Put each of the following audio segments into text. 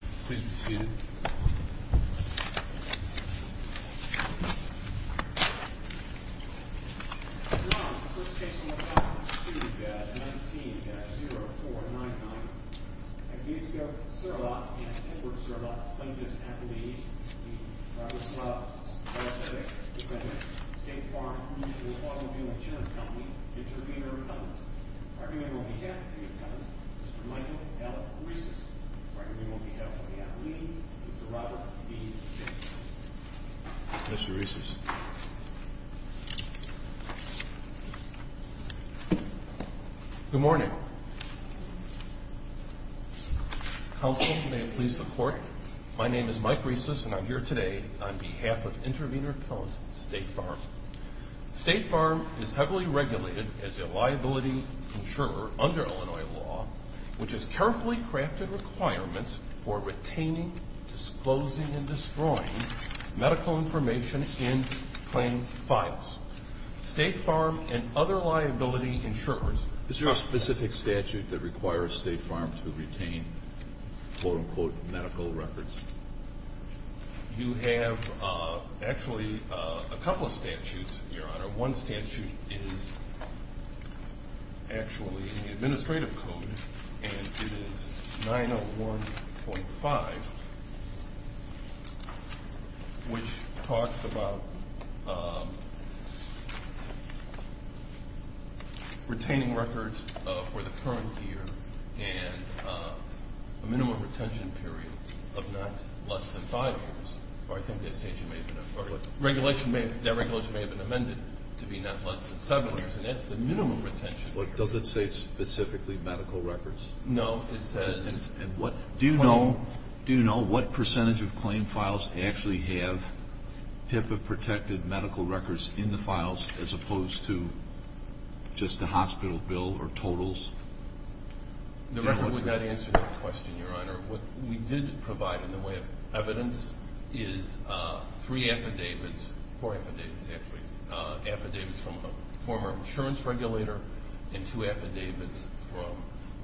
Please be seated Mr. Reese's Good morning Counsel, may it please the court. My name is Mike Reese's and I'm here today on behalf of Intervenor Appellant State Farm State Farm is heavily regulated as a liability insurer under Illinois law, which is carefully crafted requirements for retaining, disclosing, and destroying medical information in claim files State Farm and other liability insurers. Is there a specific statute that requires State Farm to retain quote-unquote medical records? You have actually a couple of statutes, your honor. One statute is actually in the administrative code, and it is 901.5 which talks about retaining records for the current year and a minimum retention period of not less than five years. I think that regulation may have been amended to be not less than seven years But does it say specifically medical records? No, it says And what do you know, do you know what percentage of claim files actually have PIPA protected medical records in the files as opposed to just the hospital bill or totals? The record would not answer that question, your honor. What we did provide in the way of evidence is three affidavits, four affidavits actually, affidavits from a former insurance regulator, and two affidavits from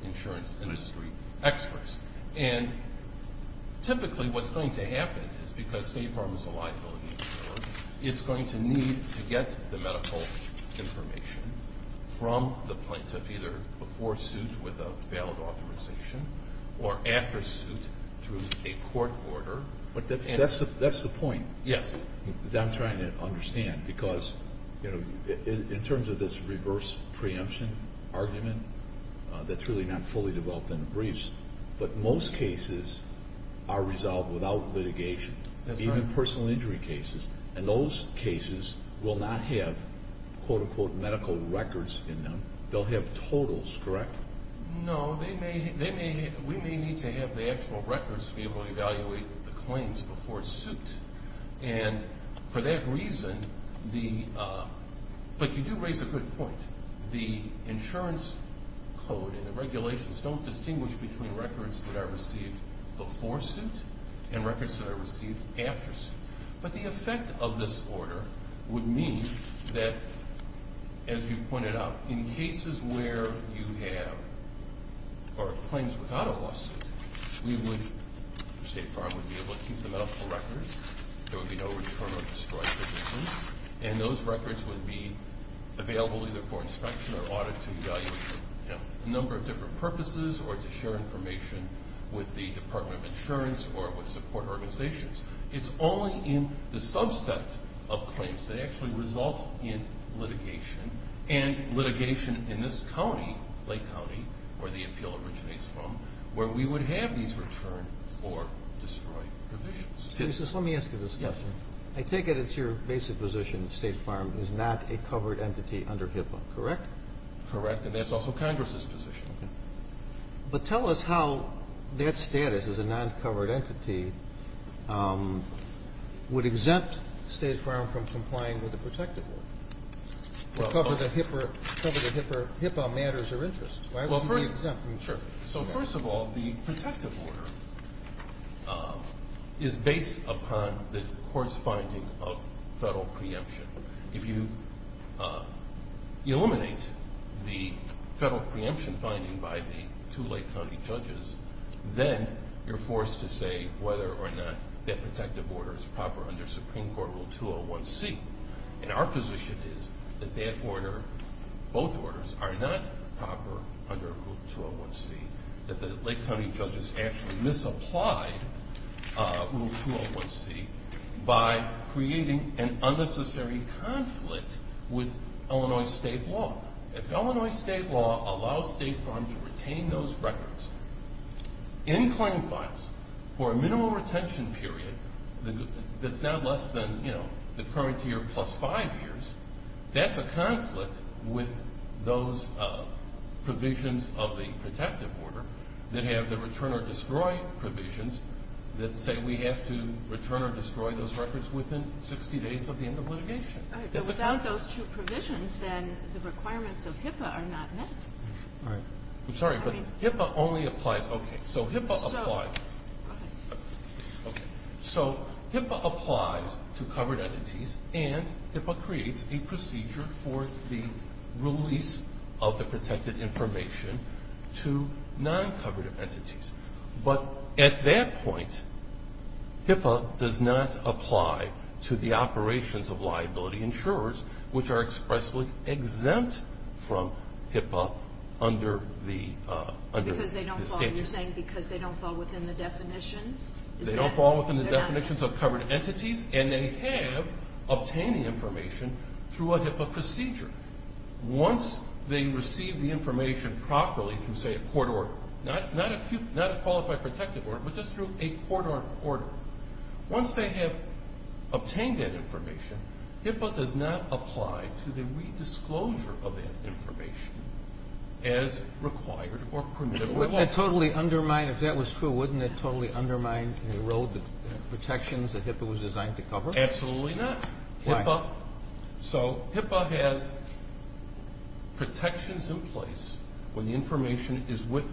insurance industry experts, and typically what's going to happen is because State Farm is a liability insurer, it's going to need to get the medical information from the plaintiff either before suit with a valid authorization or after suit through a court order. But that's the point. Yes, I'm trying to understand because you know in terms of this reverse preemption argument that's really not fully developed in the briefs, but most cases are resolved without litigation, even personal injury cases, and those cases will not have quote-unquote medical records in them. They'll have totals, correct? No, they may, we may need to have the actual records to be able to evaluate the claims before suit and for that reason the but you do raise a good point, the insurance code and the regulations don't distinguish between records that are received before suit and records that are received after suit. But the effect of this order would mean that as you pointed out, in cases where you have or claims without a lawsuit, we would, State Farm would be able to keep the medical records, there would be no return of destroyed provisions, and those records would be available either for inspection or audit to evaluate a number of different purposes or to share information with the Department of Insurance or with support organizations. It's only in the subset of claims that actually result in litigation and litigation in this county, Lake County, where the appeal originates from, where we would have these return or destroyed provisions. Justice, let me ask you this question. Yes. I take it it's your basic position, State Farm is not a covered entity under HIPAA, correct? Correct, and that's also Congress's position. But tell us how that status as a non-covered entity would exempt State Farm from complying with the protective order, cover the HIPAA matters of interest. Well, first, so first of all, the protective order is based upon the court's finding of federal preemption. If you eliminate the federal preemption finding by the two Lake County judges, then you're forced to say whether or not that protective order is proper under Supreme Court Rule 201C. And our position is that that order, both orders, are not proper under Rule 201C, that the Lake County judges actually misapplied Rule 201C by creating an unnecessary conflict with Illinois state law. If Illinois state law allows State Farm to retain those records in claim files for a minimal retention period, that's not less than, you know, the current year plus five years, that's a conflict with those provisions of the protective order that have the return or destroy provisions that say we have to return or destroy those records within 60 days of the end of litigation. All right, but without those two provisions, then the requirements of HIPAA are not met. All right, I'm sorry, but HIPAA only applies, okay, so HIPAA applies. Go ahead. Okay, so HIPAA applies to covered entities and HIPAA creates a procedure for the release of the protected information to non-covered entities. But at that point, HIPAA does not apply to the operations of liability insurers, which are expressly exempt from HIPAA under the statute. So you're saying because they don't fall within the definitions? They don't fall within the definitions of covered entities, and they have obtained the information through a HIPAA procedure. Once they receive the information properly through, say, a court order, not a qualified protective order, but just through a court order, once they have obtained that information, HIPAA does not apply to the redisclosure of that information as required or permitted. Wouldn't that totally undermine, if that was true, wouldn't it totally undermine and erode the protections that HIPAA was designed to cover? Absolutely not. Why? So HIPAA has protections in place when the information is with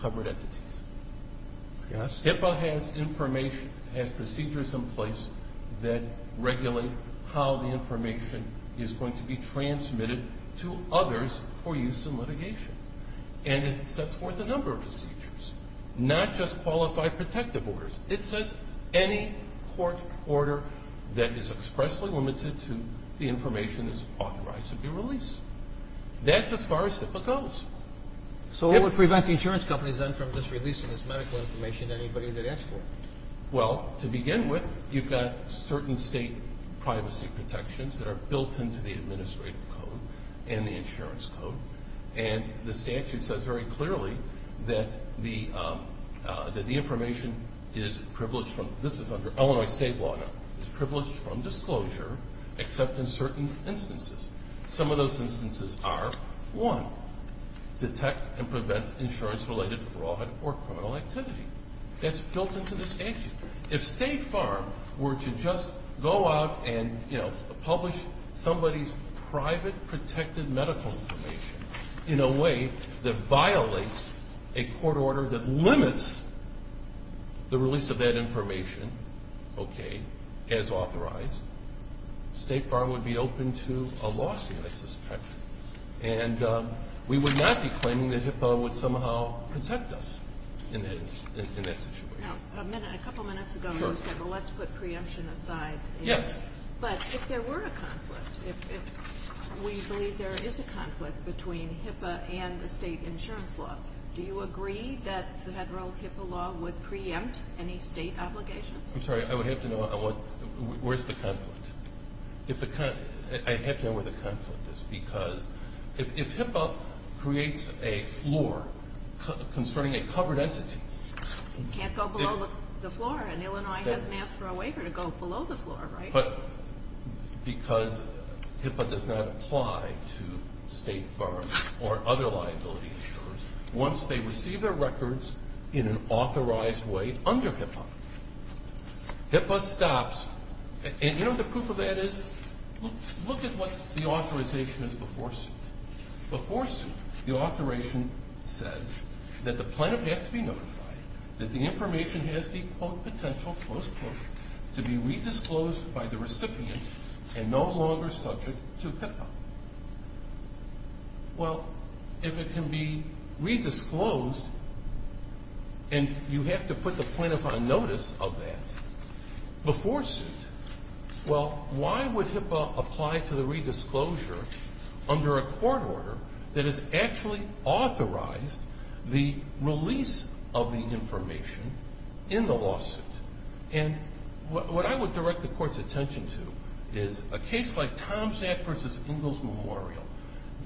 covered entities. Yes. HIPAA has information, has procedures in place that regulate how the information is going to be transmitted to others for use in litigation. And it sets forth a number of procedures, not just qualified protective orders. It says any court order that is expressly limited to the information is authorized to be released. That's as far as HIPAA goes. So what would prevent the insurance companies then from just releasing this medical information to anybody they'd ask for? Well, to begin with, you've got certain state privacy protections that are built into the administrative code and the insurance code. And the statute says very clearly that the information is privileged from, this is under Illinois state law now, is privileged from disclosure except in certain instances. Some of those instances are, one, detect and prevent insurance related fraud or criminal activity. That's built into the statute. If State Farm were to just go out and, you know, publish somebody's private protected medical information in a way that violates a court order that limits the release of that information, okay, as authorized, State Farm would be open to a lawsuit, I suspect. And we would not be claiming that HIPAA would somehow protect us in that situation. Now, a minute, a couple minutes ago, you said, well, let's put preemption aside. Yes. But if there were a conflict, if we believe there is a conflict between HIPAA and the state insurance law, do you agree that the federal HIPAA law would preempt any state obligations? I'm sorry, I would have to know where's the conflict. If the, I'd have to know where the conflict is because if HIPAA creates a floor concerning a covered entity. Can't go below the floor, and Illinois hasn't asked for a waiver to go below the floor, right? But because HIPAA does not apply to State Farm or other liability insurers, once they receive their records in an authorized way under HIPAA, HIPAA stops. And you know what the proof of that is? Look at what the authorization is before suit. Before suit, the authorization says that the plaintiff has to be notified that the information has the, quote, potential, close quote, to be re-disclosed by the recipient and no longer subject to HIPAA. Well, if it can be re-disclosed, and you have to put the plaintiff on notice of that before suit, well, why would HIPAA apply to the re-disclosure under a court order that has actually authorized the release of the information in the lawsuit? And what I would direct the court's attention to is a case like Tom's Act versus Ingalls Memorial.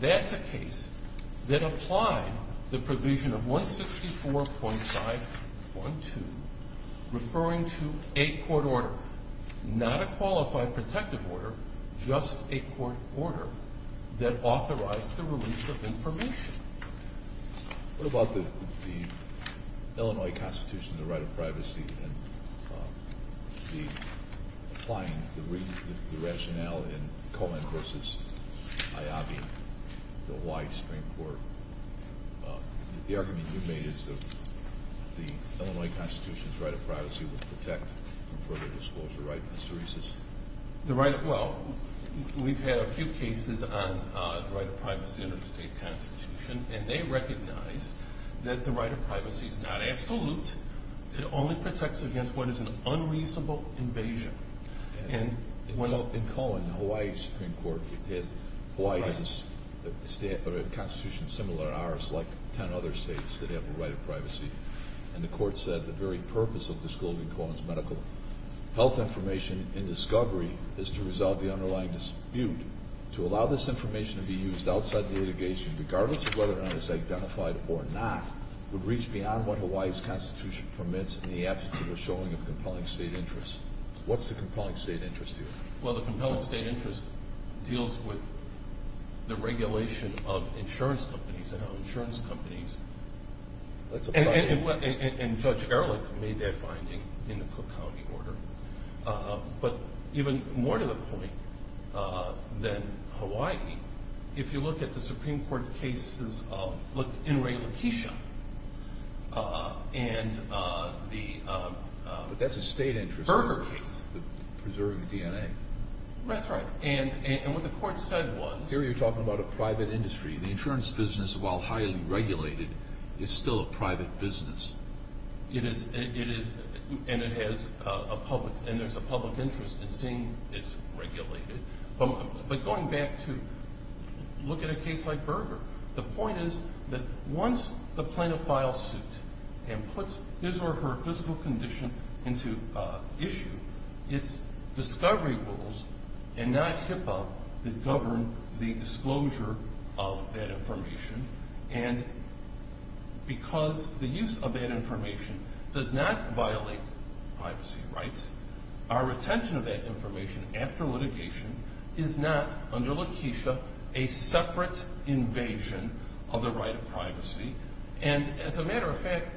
That's a case that applied the provision of 164.512, referring to a court order. Not a qualified protective order, just a court order that authorized the release of information. What about the Illinois Constitution, the right of privacy, and the, applying the rationale in Cohen versus Ayabi, the white Supreme Court? The argument you've made is that the Illinois Constitution's right of privacy will protect from further disclosure, right, Mr. Reeses? The right of, well, we've had a few cases on the right of privacy under the state constitution, and they recognize that the right of privacy is not absolute. It only protects against what is an unreasonable invasion. And in Cohen, the Hawaii Supreme Court, Hawaii has a constitution similar to ours, like 10 other states, that have a right of privacy. And the court said the very purpose of disclosing Cohen's medical health information in discovery is to resolve the underlying dispute. To allow this information to be used outside the litigation, regardless of whether or not it's identified or not, would reach beyond what Hawaii's constitution permits in the absence of a showing of compelling state interest. What's the compelling state interest here? Well, the compelling state interest deals with the regulation of insurance companies, and how insurance companies, and Judge Ehrlich made that finding in the Cook County order. But even more to the point than Hawaii, if you look at the Supreme Court cases of, look, In re Laquisha, and the, But that's a state interest. Berger case. Preserving DNA. That's right. And what the court said was. Here you're talking about a private industry. The insurance business, while highly regulated, is still a private business. It is, and it has a public, and there's a public interest in seeing it's regulated. But going back to, look at a case like Berger. The point is that once the plaintiff files suit and puts his or her physical condition into issue, it's discovery rules and not HIPAA that govern the disclosure of that information. And because the use of that information does not violate privacy rights, our retention of that information after litigation is not, under Laquisha, a separate invasion of the right of privacy. And as a matter of fact,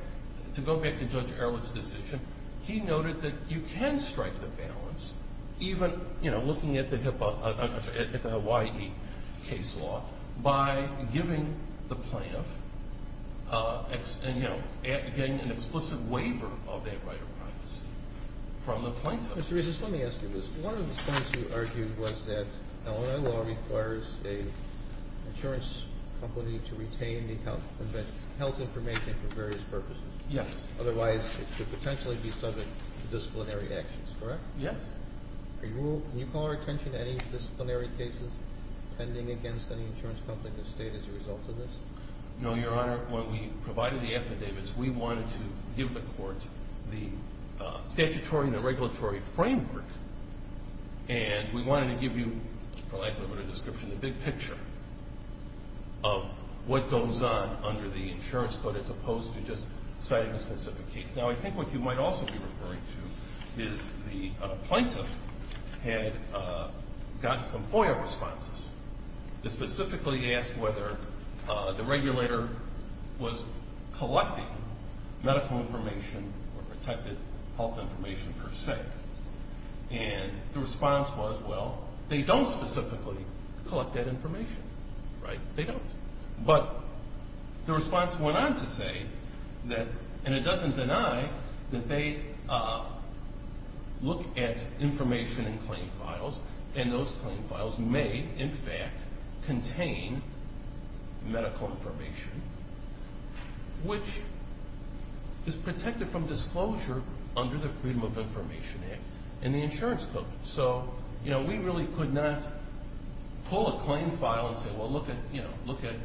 to go back to Judge Ehrlich's decision, he noted that you can strike the balance, even, you know, looking at the HIPAA, I'm sorry, at the Hawaii case law, by giving the plaintiff, you know, getting an explicit waiver of that right of privacy from the plaintiff. Mr. Regis, let me ask you this. One of the points you argued was that Illinois law requires an insurance company to retain the health information for various purposes. Yes. Otherwise, it could potentially be subject to disciplinary actions, correct? Yes. Are you, can you call our attention to any disciplinary cases pending against any insurance company in the state as a result of this? No, Your Honor. When we provided the affidavits, we wanted to give the court the statutory and the regulatory framework, and we wanted to give you, for lack of a better description, the big picture of what goes on under the insurance code as opposed to just citing a specific case. Now, I think what you might also be referring to is the plaintiff had gotten some FOIA responses that specifically asked whether the regulator was collecting medical information or protected health information per se, and the response was, well, they don't specifically collect that information, right? They don't. But the response went on to say that, and it doesn't deny that they look at information in claim files, and those claim files may, in fact, contain medical information, which is protected from disclosure under the Freedom of Information Act and the insurance code. So, you know, we really could not pull a claim file and say, well, look at, you know, look at,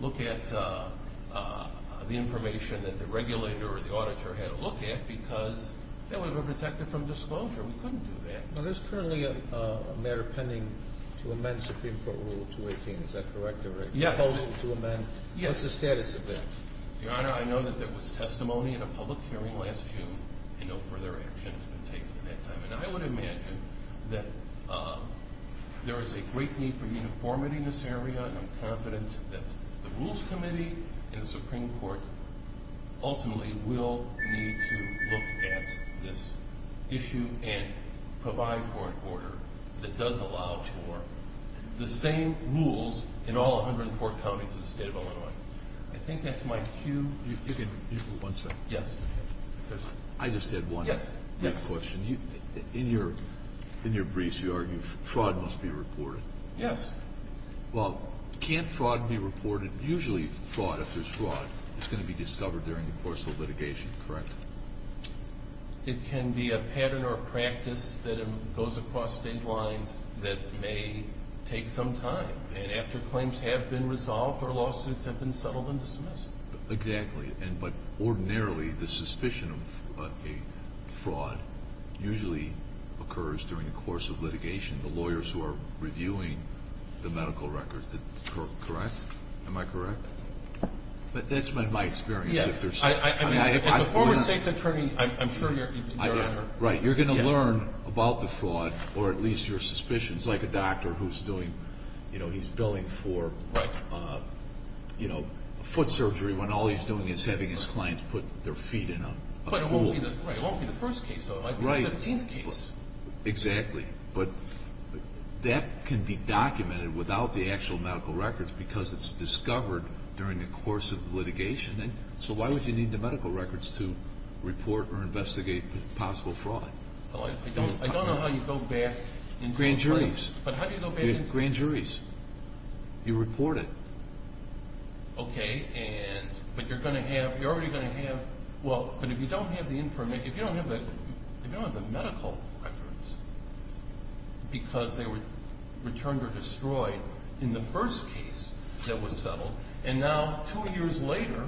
look at the information that the regulator or the auditor had a look at because that way we're protected from disclosure. We couldn't do that. Now, there's currently a matter pending to amend Supreme Court Rule 218. Is that correct? Yes. A total to amend. Yes. What's the status of that? Your Honor, I know that there was testimony in a public hearing last June, and no further action has been taken at that time. And I would imagine that there is a great need for uniformity in this area, and I'm confident that the Rules Committee and the Supreme Court ultimately will need to look at this issue and provide for an order that does allow for the same rules in all 104 counties in the state of Illinois. I think that's my cue. If you could, one second. Yes. I just had one question. In your briefs, you argue fraud must be reported. Yes. Well, can't fraud be reported? Usually fraud, if there's fraud, is going to be discovered during the course of litigation, correct? It can be a pattern or a practice that goes across state lines that may take some time. And after claims have been resolved or lawsuits have been settled and dismissed. Exactly. But ordinarily, the suspicion of a fraud usually occurs during the course of litigation. The lawyers who are reviewing the medical records, correct? Am I correct? That's been my experience. Yes. I mean, as a former state's attorney, I'm sure you're right. You're going to learn about the fraud, or at least your suspicions. It's like a doctor who's doing, you know, he's billing for, you know, foot surgery when all he's doing is having his clients put their feet in a pool. Right, it won't be the first case though, it might be the 15th case. Exactly. But that can be documented without the actual medical records because it's discovered during the course of litigation. And so why would you need the medical records to report or investigate possible fraud? I don't know how you go back in time. Grand juries. But how do you go back in time? Grand juries. You report it. Okay, and, but you're going to have, you're already going to have, well, but if you don't have the information, if you don't have the medical records, because they were returned or destroyed in the first case that was settled, and now two years later,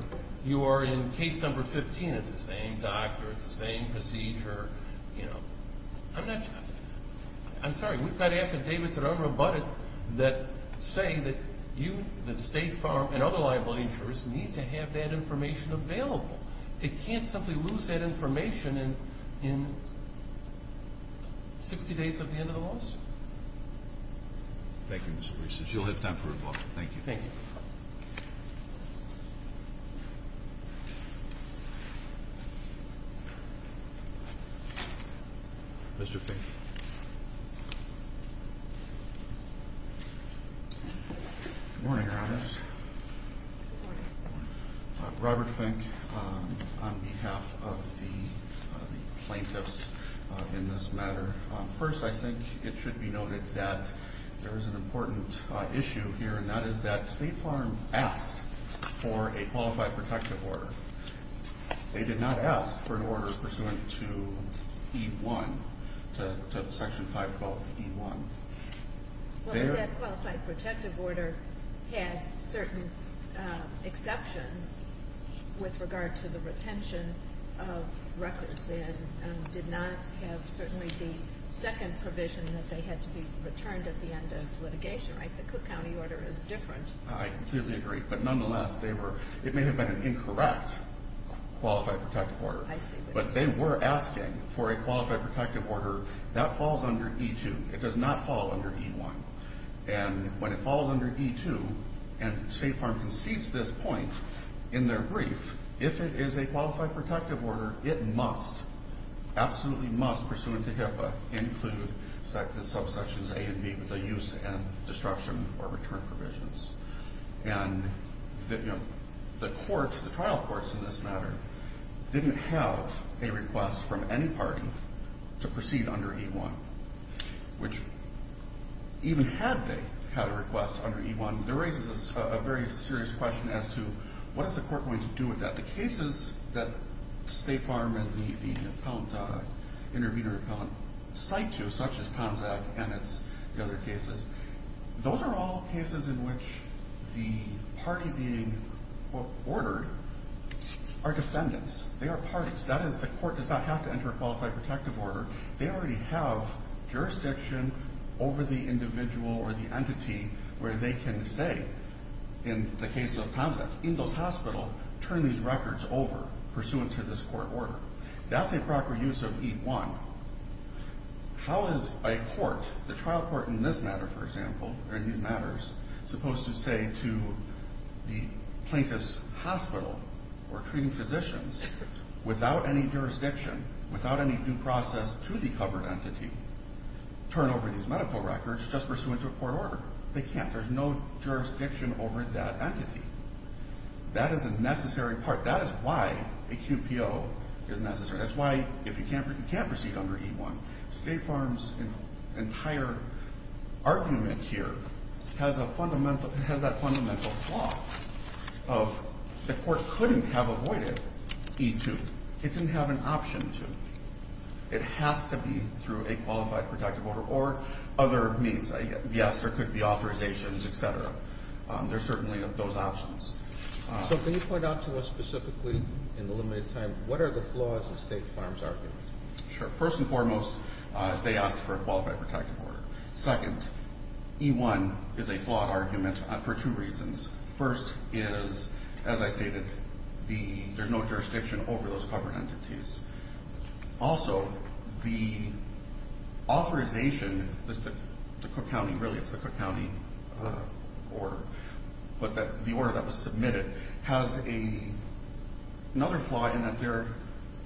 you are in case number 15. It's the same doctor, it's the same procedure, you know, I'm not, I'm sorry, we've got affidavits that aren't rebutted that say that you, that State Farm and other liable insurers need to have that information available. It can't simply lose that information in 60 days of the end of the lawsuit. Thank you, Mr. Priest. You'll have time for a book. Thank you. Thank you. Mr. Fink. Good morning, Your Honors. Robert Fink on behalf of the plaintiffs in this matter. First, I think it should be noted that there is an important issue here, and that is that State Farm asked for a qualified protective order. They did not ask for an order pursuant to E-1, to Section 512E-1. Well, that qualified protective order had certain exceptions with regard to the retention of records, and did not have certainly the second provision that they had to be returned at the end of litigation, right? The Cook County order is different. I completely agree. But nonetheless, they were, it may have been an incorrect qualified protective order, but they were asking for a qualified protective order that falls under E-2. It does not fall under E-1. And when it falls under E-2, and State Farm concedes this point in their brief, if it is a qualified protective order, it must, absolutely must, pursuant to HIPAA, include subsections A and B with the use and destruction or return provisions. And the court, the trial courts in this matter, didn't have a request from any party to proceed under E-1, which even had they had a request under E-1, there raises a very serious question as to what is the court going to do with that? But the cases that State Farm and the appellant, intervening appellant, cite to, such as Tomzak and the other cases, those are all cases in which the party being ordered are defendants. They are parties. That is, the court does not have to enter a qualified protective order. They already have jurisdiction over the individual or the entity where they can say, in the case of Tomzak, Ingalls Hospital, turn these records over pursuant to this court order. That's a proper use of E-1. How is a court, the trial court in this matter, for example, or in these matters, supposed to say to the plaintiff's hospital or treating physicians, without any jurisdiction, without any due process to the covered entity, turn over these medical records just pursuant to a court order? They can't. There's no jurisdiction over that entity. That is a necessary part. That is why a QPO is necessary. That's why, if you can't proceed under E-1, State Farm's entire argument here has a fundamental, has that fundamental flaw of the court couldn't have avoided E-2. It didn't have an option to. It has to be through a qualified protective order or other means. Yes, there could be authorizations, et cetera. There's certainly those options. So, can you point out to us specifically, in the limited time, what are the flaws of State Farm's argument? Sure. First and foremost, they asked for a qualified protective order. Second, E-1 is a flawed argument for two reasons. First is, as I stated, there's no jurisdiction over those covered entities. Also, the authorization, the Cook County, really it's the Cook County order, but the order that was submitted has another flaw in that they're,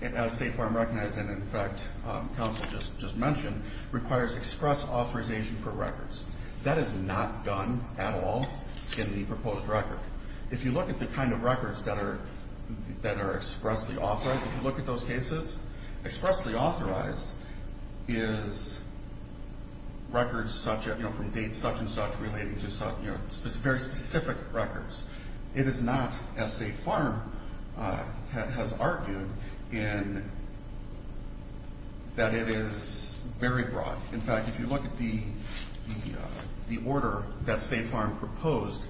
as State Farm recognized and, in fact, counsel just mentioned, requires express authorization for records. That is not done at all in the proposed record. If you look at the kind of records that are expressly authorized, if you look at those cases, expressly authorized is records such as, you know, from date such and such relating to, you know, very specific records. It is not, as State Farm has argued, that it is very broad. In fact, if you look at the order that State Farm proposed,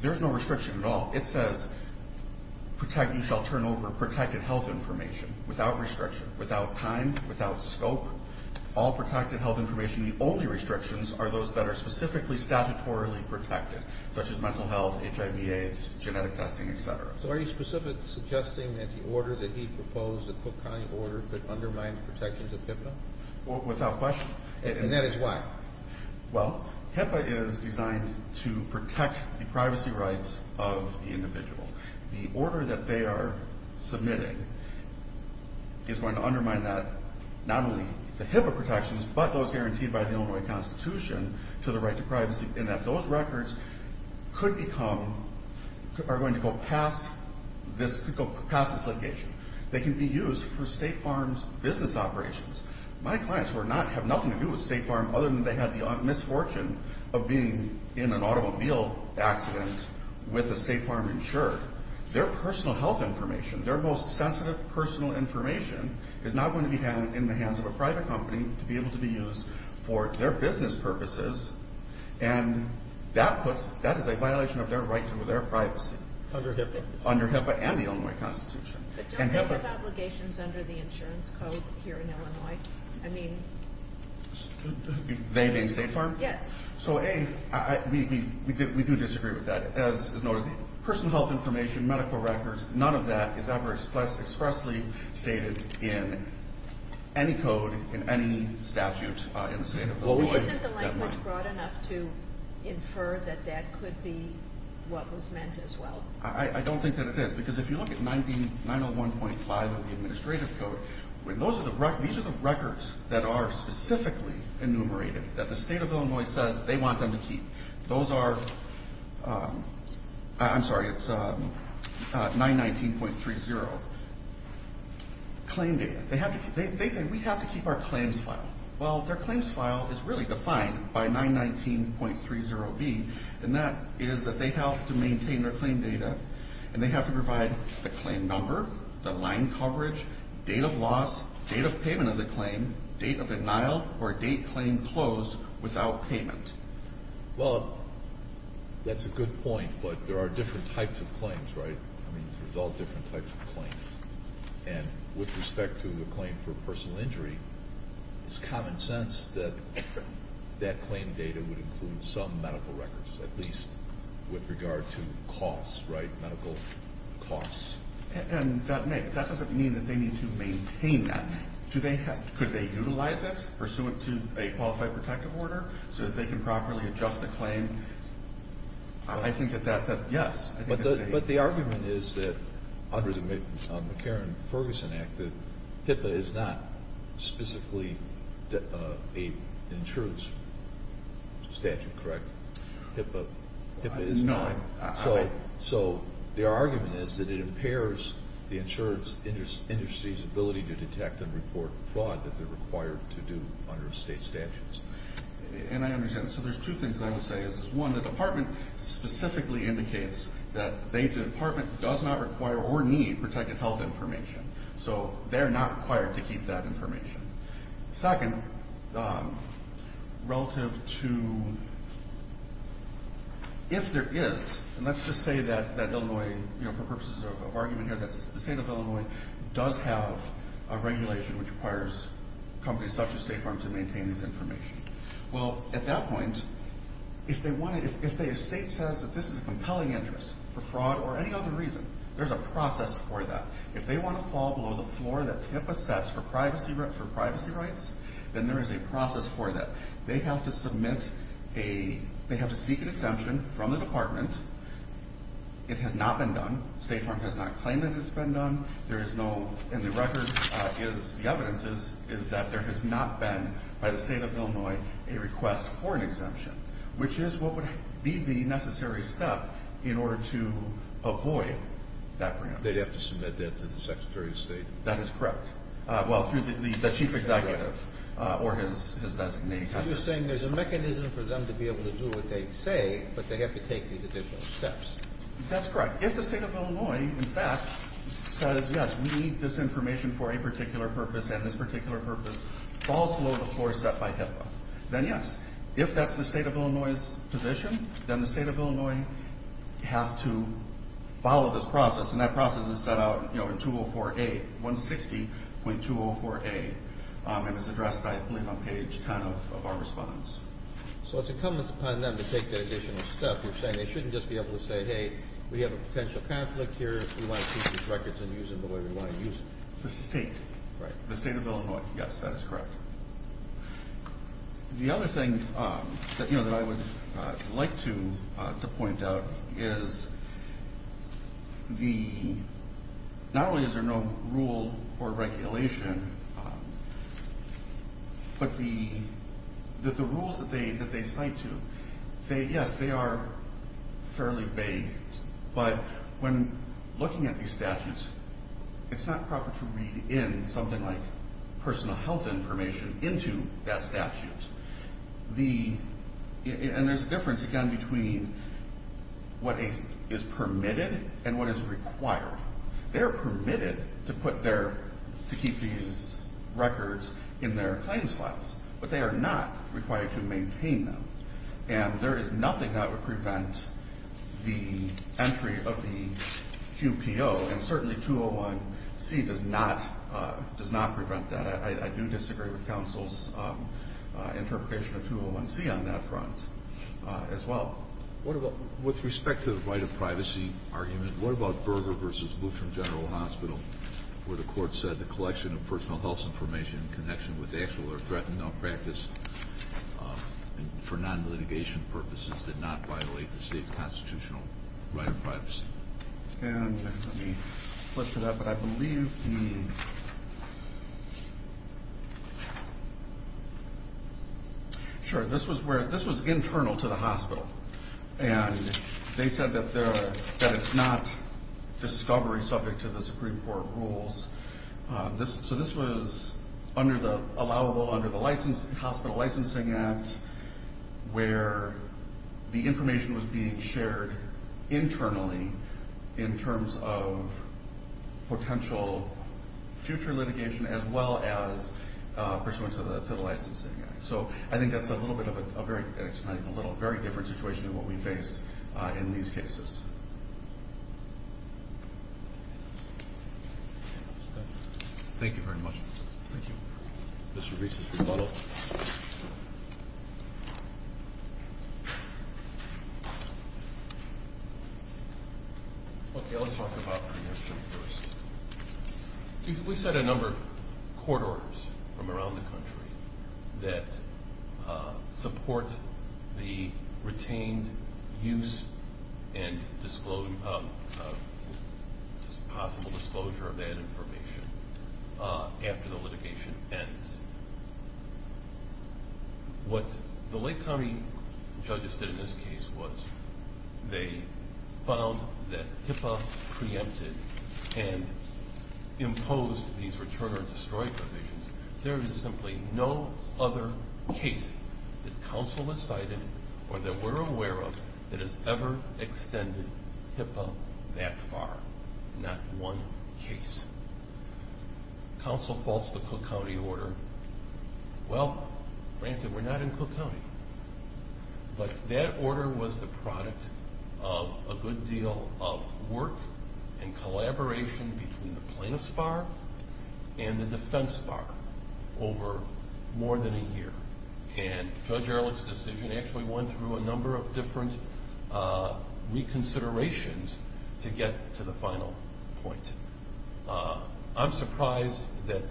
there's no restriction at all. It says, you shall turn over protected health information without restriction, without time, without scope, all protected health information. The only restrictions are those that are specifically statutorily protected, such as mental health, HIV, AIDS, genetic testing, et cetera. So, are you specifically suggesting that the order that he proposed, the Cook County order, could undermine the protections of HIPAA? Without question. And that is why? Well, HIPAA is designed to protect the privacy rights of the individual. The order that they are submitting is going to undermine that, not only the HIPAA protections, but those guaranteed by the Illinois Constitution to the right to privacy, and that those records could become, are going to go past this litigation. They can be used for State Farm's business operations. My clients, who are not, have nothing to do with State Farm, other than they had the misfortune of being in an automobile accident with a State Farm insurer, their personal health information, their most sensitive personal information, is now going to be in the hands of a private company to be able to be used for their business purposes, and that puts, that is a violation of their right to their privacy. Under HIPAA? Under HIPAA and the Illinois Constitution. But don't they have obligations under the insurance code here in Illinois? I mean... They being State Farm? Yes. So, A, we do disagree with that. As noted, personal health information, medical records, none of that is ever expressly stated in any code, in any statute in the state of Illinois. Isn't the language broad enough to infer that that could be what was meant as well? I don't think that it is, because if you look at 901.5 of the administrative code, these are the records that are specifically enumerated, that the state of Illinois says they want them to keep. Those are, I'm sorry, it's 919.30. Claim data, they say we have to keep our claims file. Well, their claims file is really defined by 919.30B, and that is that they have to maintain their claim data, and they have to provide the claim number, the line coverage, date of loss, date of payment of the claim, date of denial, or date claim closed without payment. Well, that's a good point, but there are different types of claims, right? I mean, there's all different types of claims, and with respect to a claim for personal injury, it's common sense that that claim data would include some medical records, at least with regard to costs, right, medical costs. And that doesn't mean that they need to maintain that. Do they have, could they utilize it, pursue it to a qualified protective order so that they can properly adjust the claim? I think that that, yes. But the argument is that, under the McCarran-Ferguson Act, that HIPAA is not specifically an insurance statute, correct? HIPAA is not. No, I'm, I'm. So, so their argument is that it impairs the insurance industry's ability to detect and report fraud that they're required to do under state statutes. And I understand. So there's two things that I would say is, one, the department specifically indicates that they, the department, does not require or need protective health information. So they're not required to keep that information. Second, relative to, if there is, and let's just say that, that Illinois, you know, for purposes of argument here, that the state of Illinois does have a regulation which requires companies such as State Farm to maintain this information. Well, at that point, if they want to, if they, if state says that this is a compelling interest for fraud or any other reason, there's a process for that. If they want to fall below the floor that HIPAA sets for privacy, for privacy rights, then there is a process for that. They have to submit a, they have to seek an exemption from the department. It has not been done. State Farm has not claimed that it has been done. There is no, and the record is, the evidence is, is that there has not been, by the state of Illinois, a request for an exemption, which is what would be the necessary step in order to avoid that breach. They'd have to submit that to the Secretary of State. That is correct. Well, through the chief executive or his, his designate. You're saying there's a mechanism for them to be able to do what they say, but they have to take these additional steps. That's correct. If the state of Illinois, in fact, says, yes, we need this information for a particular purpose, and this particular purpose falls below the floor set by HIPAA, then yes, if that's the state of Illinois's position, then the state of Illinois has to follow this process. And that process is set out, you know, in 204A, 160.204A, and it's addressed, I believe, on page 10 of our response. So it's incumbent upon them to take that additional step. You're saying they shouldn't just be able to say, hey, we have a potential conflict here, we want to keep these records and use them the way we want to use them. The state, the state of Illinois, yes, that is correct. The other thing that, you know, that I would like to, to point out is the, not only is there no rule or regulation, but the, that the rules that they, that they cite to, they, yes, they are fairly vague. But when looking at these statutes, it's not proper to read in something like personal health information into that statute. The, and there's a difference, again, between what is permitted and what is required. They're permitted to put their, to keep these records in their claims files, but they are not required to maintain them. And there is nothing that would prevent the entry of the QPO, and certainly 201C does not, does not prevent that. I, I do disagree with counsel's interpretation of 201C on that front as well. What about, with respect to the right of privacy argument, what about Berger v. Lutheran General Hospital, where the court said the collection of personal health information in connection with actual or threatened malpractice, for non-litigation purposes, did not violate the state's constitutional right of privacy? And let me flip to that, but I believe the, sure, this was where, this was internal to the hospital, and they said that there, that it's not discovery subject to the Supreme Court rules. This, so this was under the, allowable under the license, hospital licensing act, where the information was being shared internally in terms of potential future litigation as well as pursuant to the licensing act. So I think that's a little bit of a, a very, a little, very different situation than what we face in these cases. Thank you very much. Thank you. Mr. Bates is rebuttal. Okay, let's talk about preemption first. We've had a number of court orders from around the country that support the retained use and possible disclosure of that information after the litigation ends. What the Lake County judges did in this case was they found that HIPAA preempted and imposed these return or destroy provisions. There is simply no other case that counsel has cited or that we're aware of that has ever extended HIPAA that far, not one case. Counsel faults the Cook County order. Well, granted, we're not in Cook County, but that order was the product of a good deal of work and collaboration between the plaintiff's bar and the defense bar over more than a year. And Judge Ehrlich's decision actually went through a number of different reconsiderations to get to the final point. I'm surprised that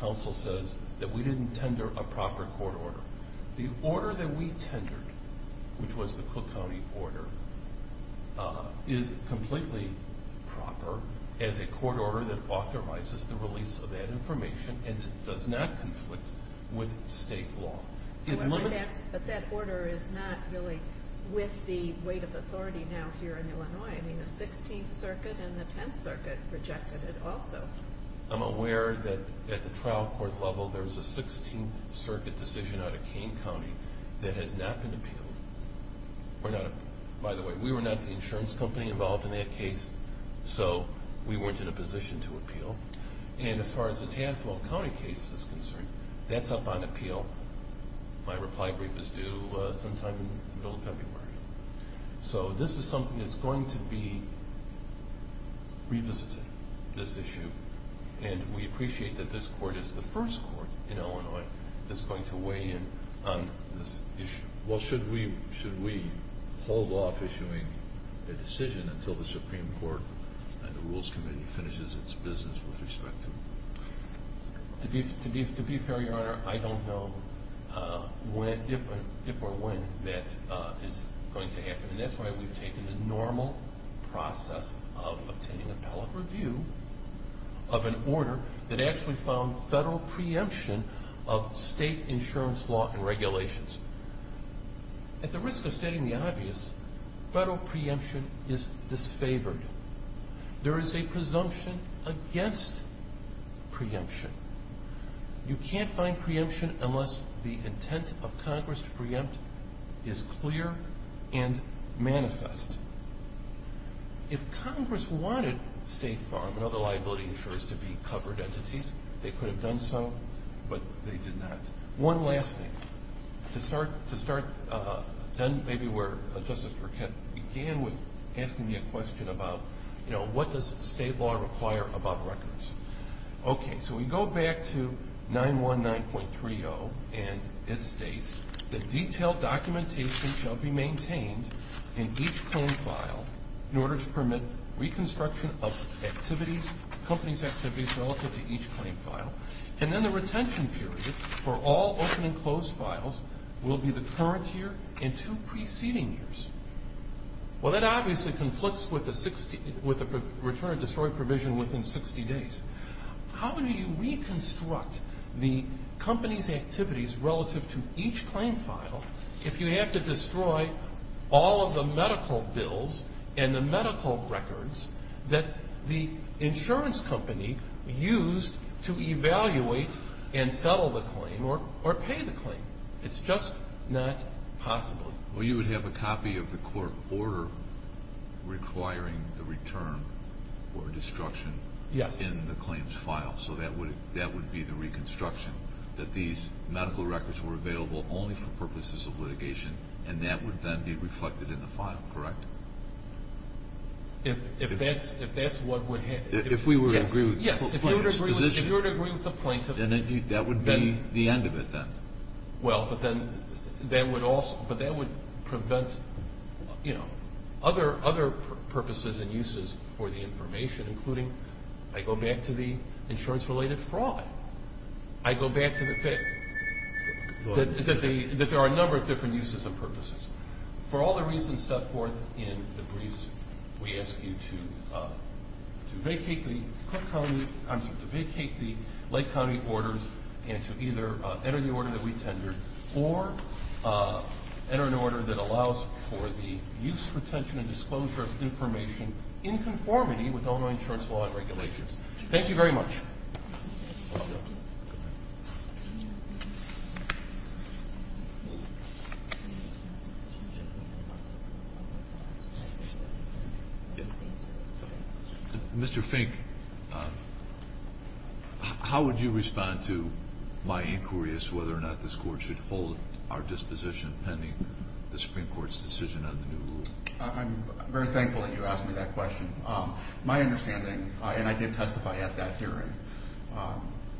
counsel says that we didn't tender a proper court order. The order that we tendered, which was the Cook County order, is completely proper as a court order that authorizes the release of that information and it does not conflict with state law. But that order is not really with the weight of authority now here in Illinois. I mean, the 16th Circuit and the 10th Circuit rejected it also. I'm aware that at the trial court level, there's a 16th Circuit decision out of Kane County that has not been appealed. By the way, we were not the insurance company involved in that case, so we weren't in a position to appeal. And as far as the Tassville County case is concerned, that's up on appeal. My reply brief is due sometime in the middle of February. So this is something that's going to be revisited, this issue. And we appreciate that this court is the first court in Illinois that's going to weigh in on this issue. Well, should we hold off issuing a decision until the Supreme Court and the Rules Committee finishes its business with respect to it? To be fair, Your Honor, I don't know if or when that is going to happen. And that's why we've taken the normal process of obtaining appellate review of an order that actually found federal preemption of state insurance law and regulations. At the risk of stating the obvious, federal preemption is disfavored. There is a presumption against preemption. You can't find preemption unless the intent of Congress to preempt is clear and manifest. If Congress wanted State Farm and other liability insurers to be covered entities, they could have done so, but they did not. One last thing. To start then maybe where Justice Burkett began with asking me a question about, you know, what does state law require about records? Okay, so we go back to 919.30, and it states, The detailed documentation shall be maintained in each claim file in order to permit reconstruction of activities, companies' activities relative to each claim file. And then the retention period for all open and closed files will be the current year and two preceding years. Well, that obviously conflicts with the return of destroyed provision within 60 days. How do you reconstruct the company's activities relative to each claim file if you have to destroy all of the medical bills and the medical records that the insurance company used to evaluate and settle the claim or pay the claim? It's just not possible. Well, you would have a copy of the court order requiring the return or destruction in the claims file. Yes. So that would be the reconstruction, that these medical records were available only for purposes of litigation, and that would then be reflected in the file, correct? If that's what would happen. If we were to agree with the plaintiff's position. Yes, if you were to agree with the plaintiff. Then that would be the end of it then. Well, but then that would prevent, you know, other purposes and uses for the information, including I go back to the insurance-related fraud. I go back to the fact that there are a number of different uses and purposes. For all the reasons set forth in the briefs, we ask you to vacate the Lake County orders and to either enter the order that we tendered or enter an order that allows for the use, retention, and disclosure of information in conformity with Illinois insurance law and regulations. Thank you very much. Mr. Fink, how would you respond to my inquiries whether or not this court should hold our disposition pending the Supreme Court's decision on the new rule? I'm very thankful that you asked me that question. My understanding, and I did testify at that hearing,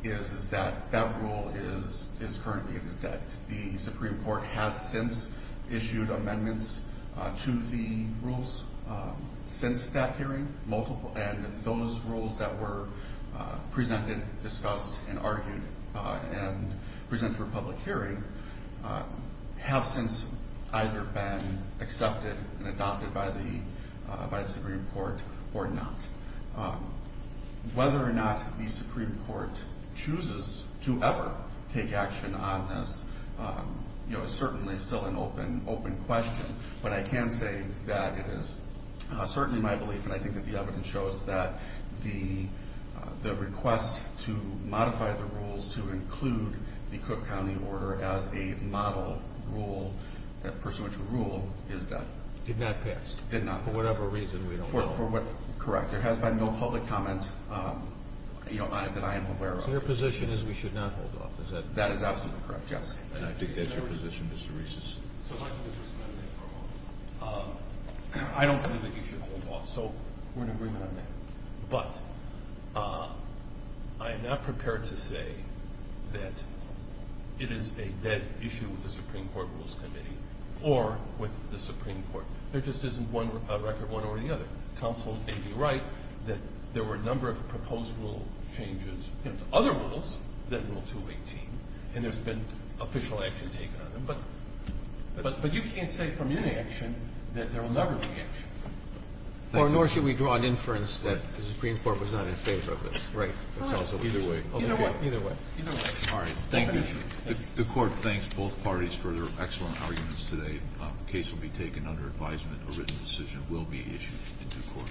is that that rule is currently in its debt. The Supreme Court has since issued amendments to the rules since that hearing, and those rules that were presented, discussed, and argued and presented for public hearing have since either been accepted and adopted by the Supreme Court or not. Whether or not the Supreme Court chooses to ever take action on this is certainly still an open question, but I can say that it is certainly my belief, and I think that the evidence shows, that the request to modify the rules to include the Cook County order as a model rule, a pursuant to rule, is that. Did not pass. Did not pass. For whatever reason, we don't know. Correct. There has been no public comment that I am aware of. So your position is we should not hold off, is that correct? That is absolutely correct, yes. And I think that's your position, Mr. Reese. I don't believe that you should hold off, so we're in agreement on that. But I am not prepared to say that it is a debt issue with the Supreme Court Rules Committee or with the Supreme Court. There just isn't one record, one or the other. Counsel may be right that there were a number of proposed rule changes to other rules than Rule 218, and there's been official action taken on them. But you can't say from any action that there will never be action. Nor should we draw an inference that the Supreme Court was not in favor of this. Right. Either way. Either way. All right. Thank you. The Court thanks both parties for their excellent arguments today. The case will be taken under advisement. A written decision will be issued to the courts.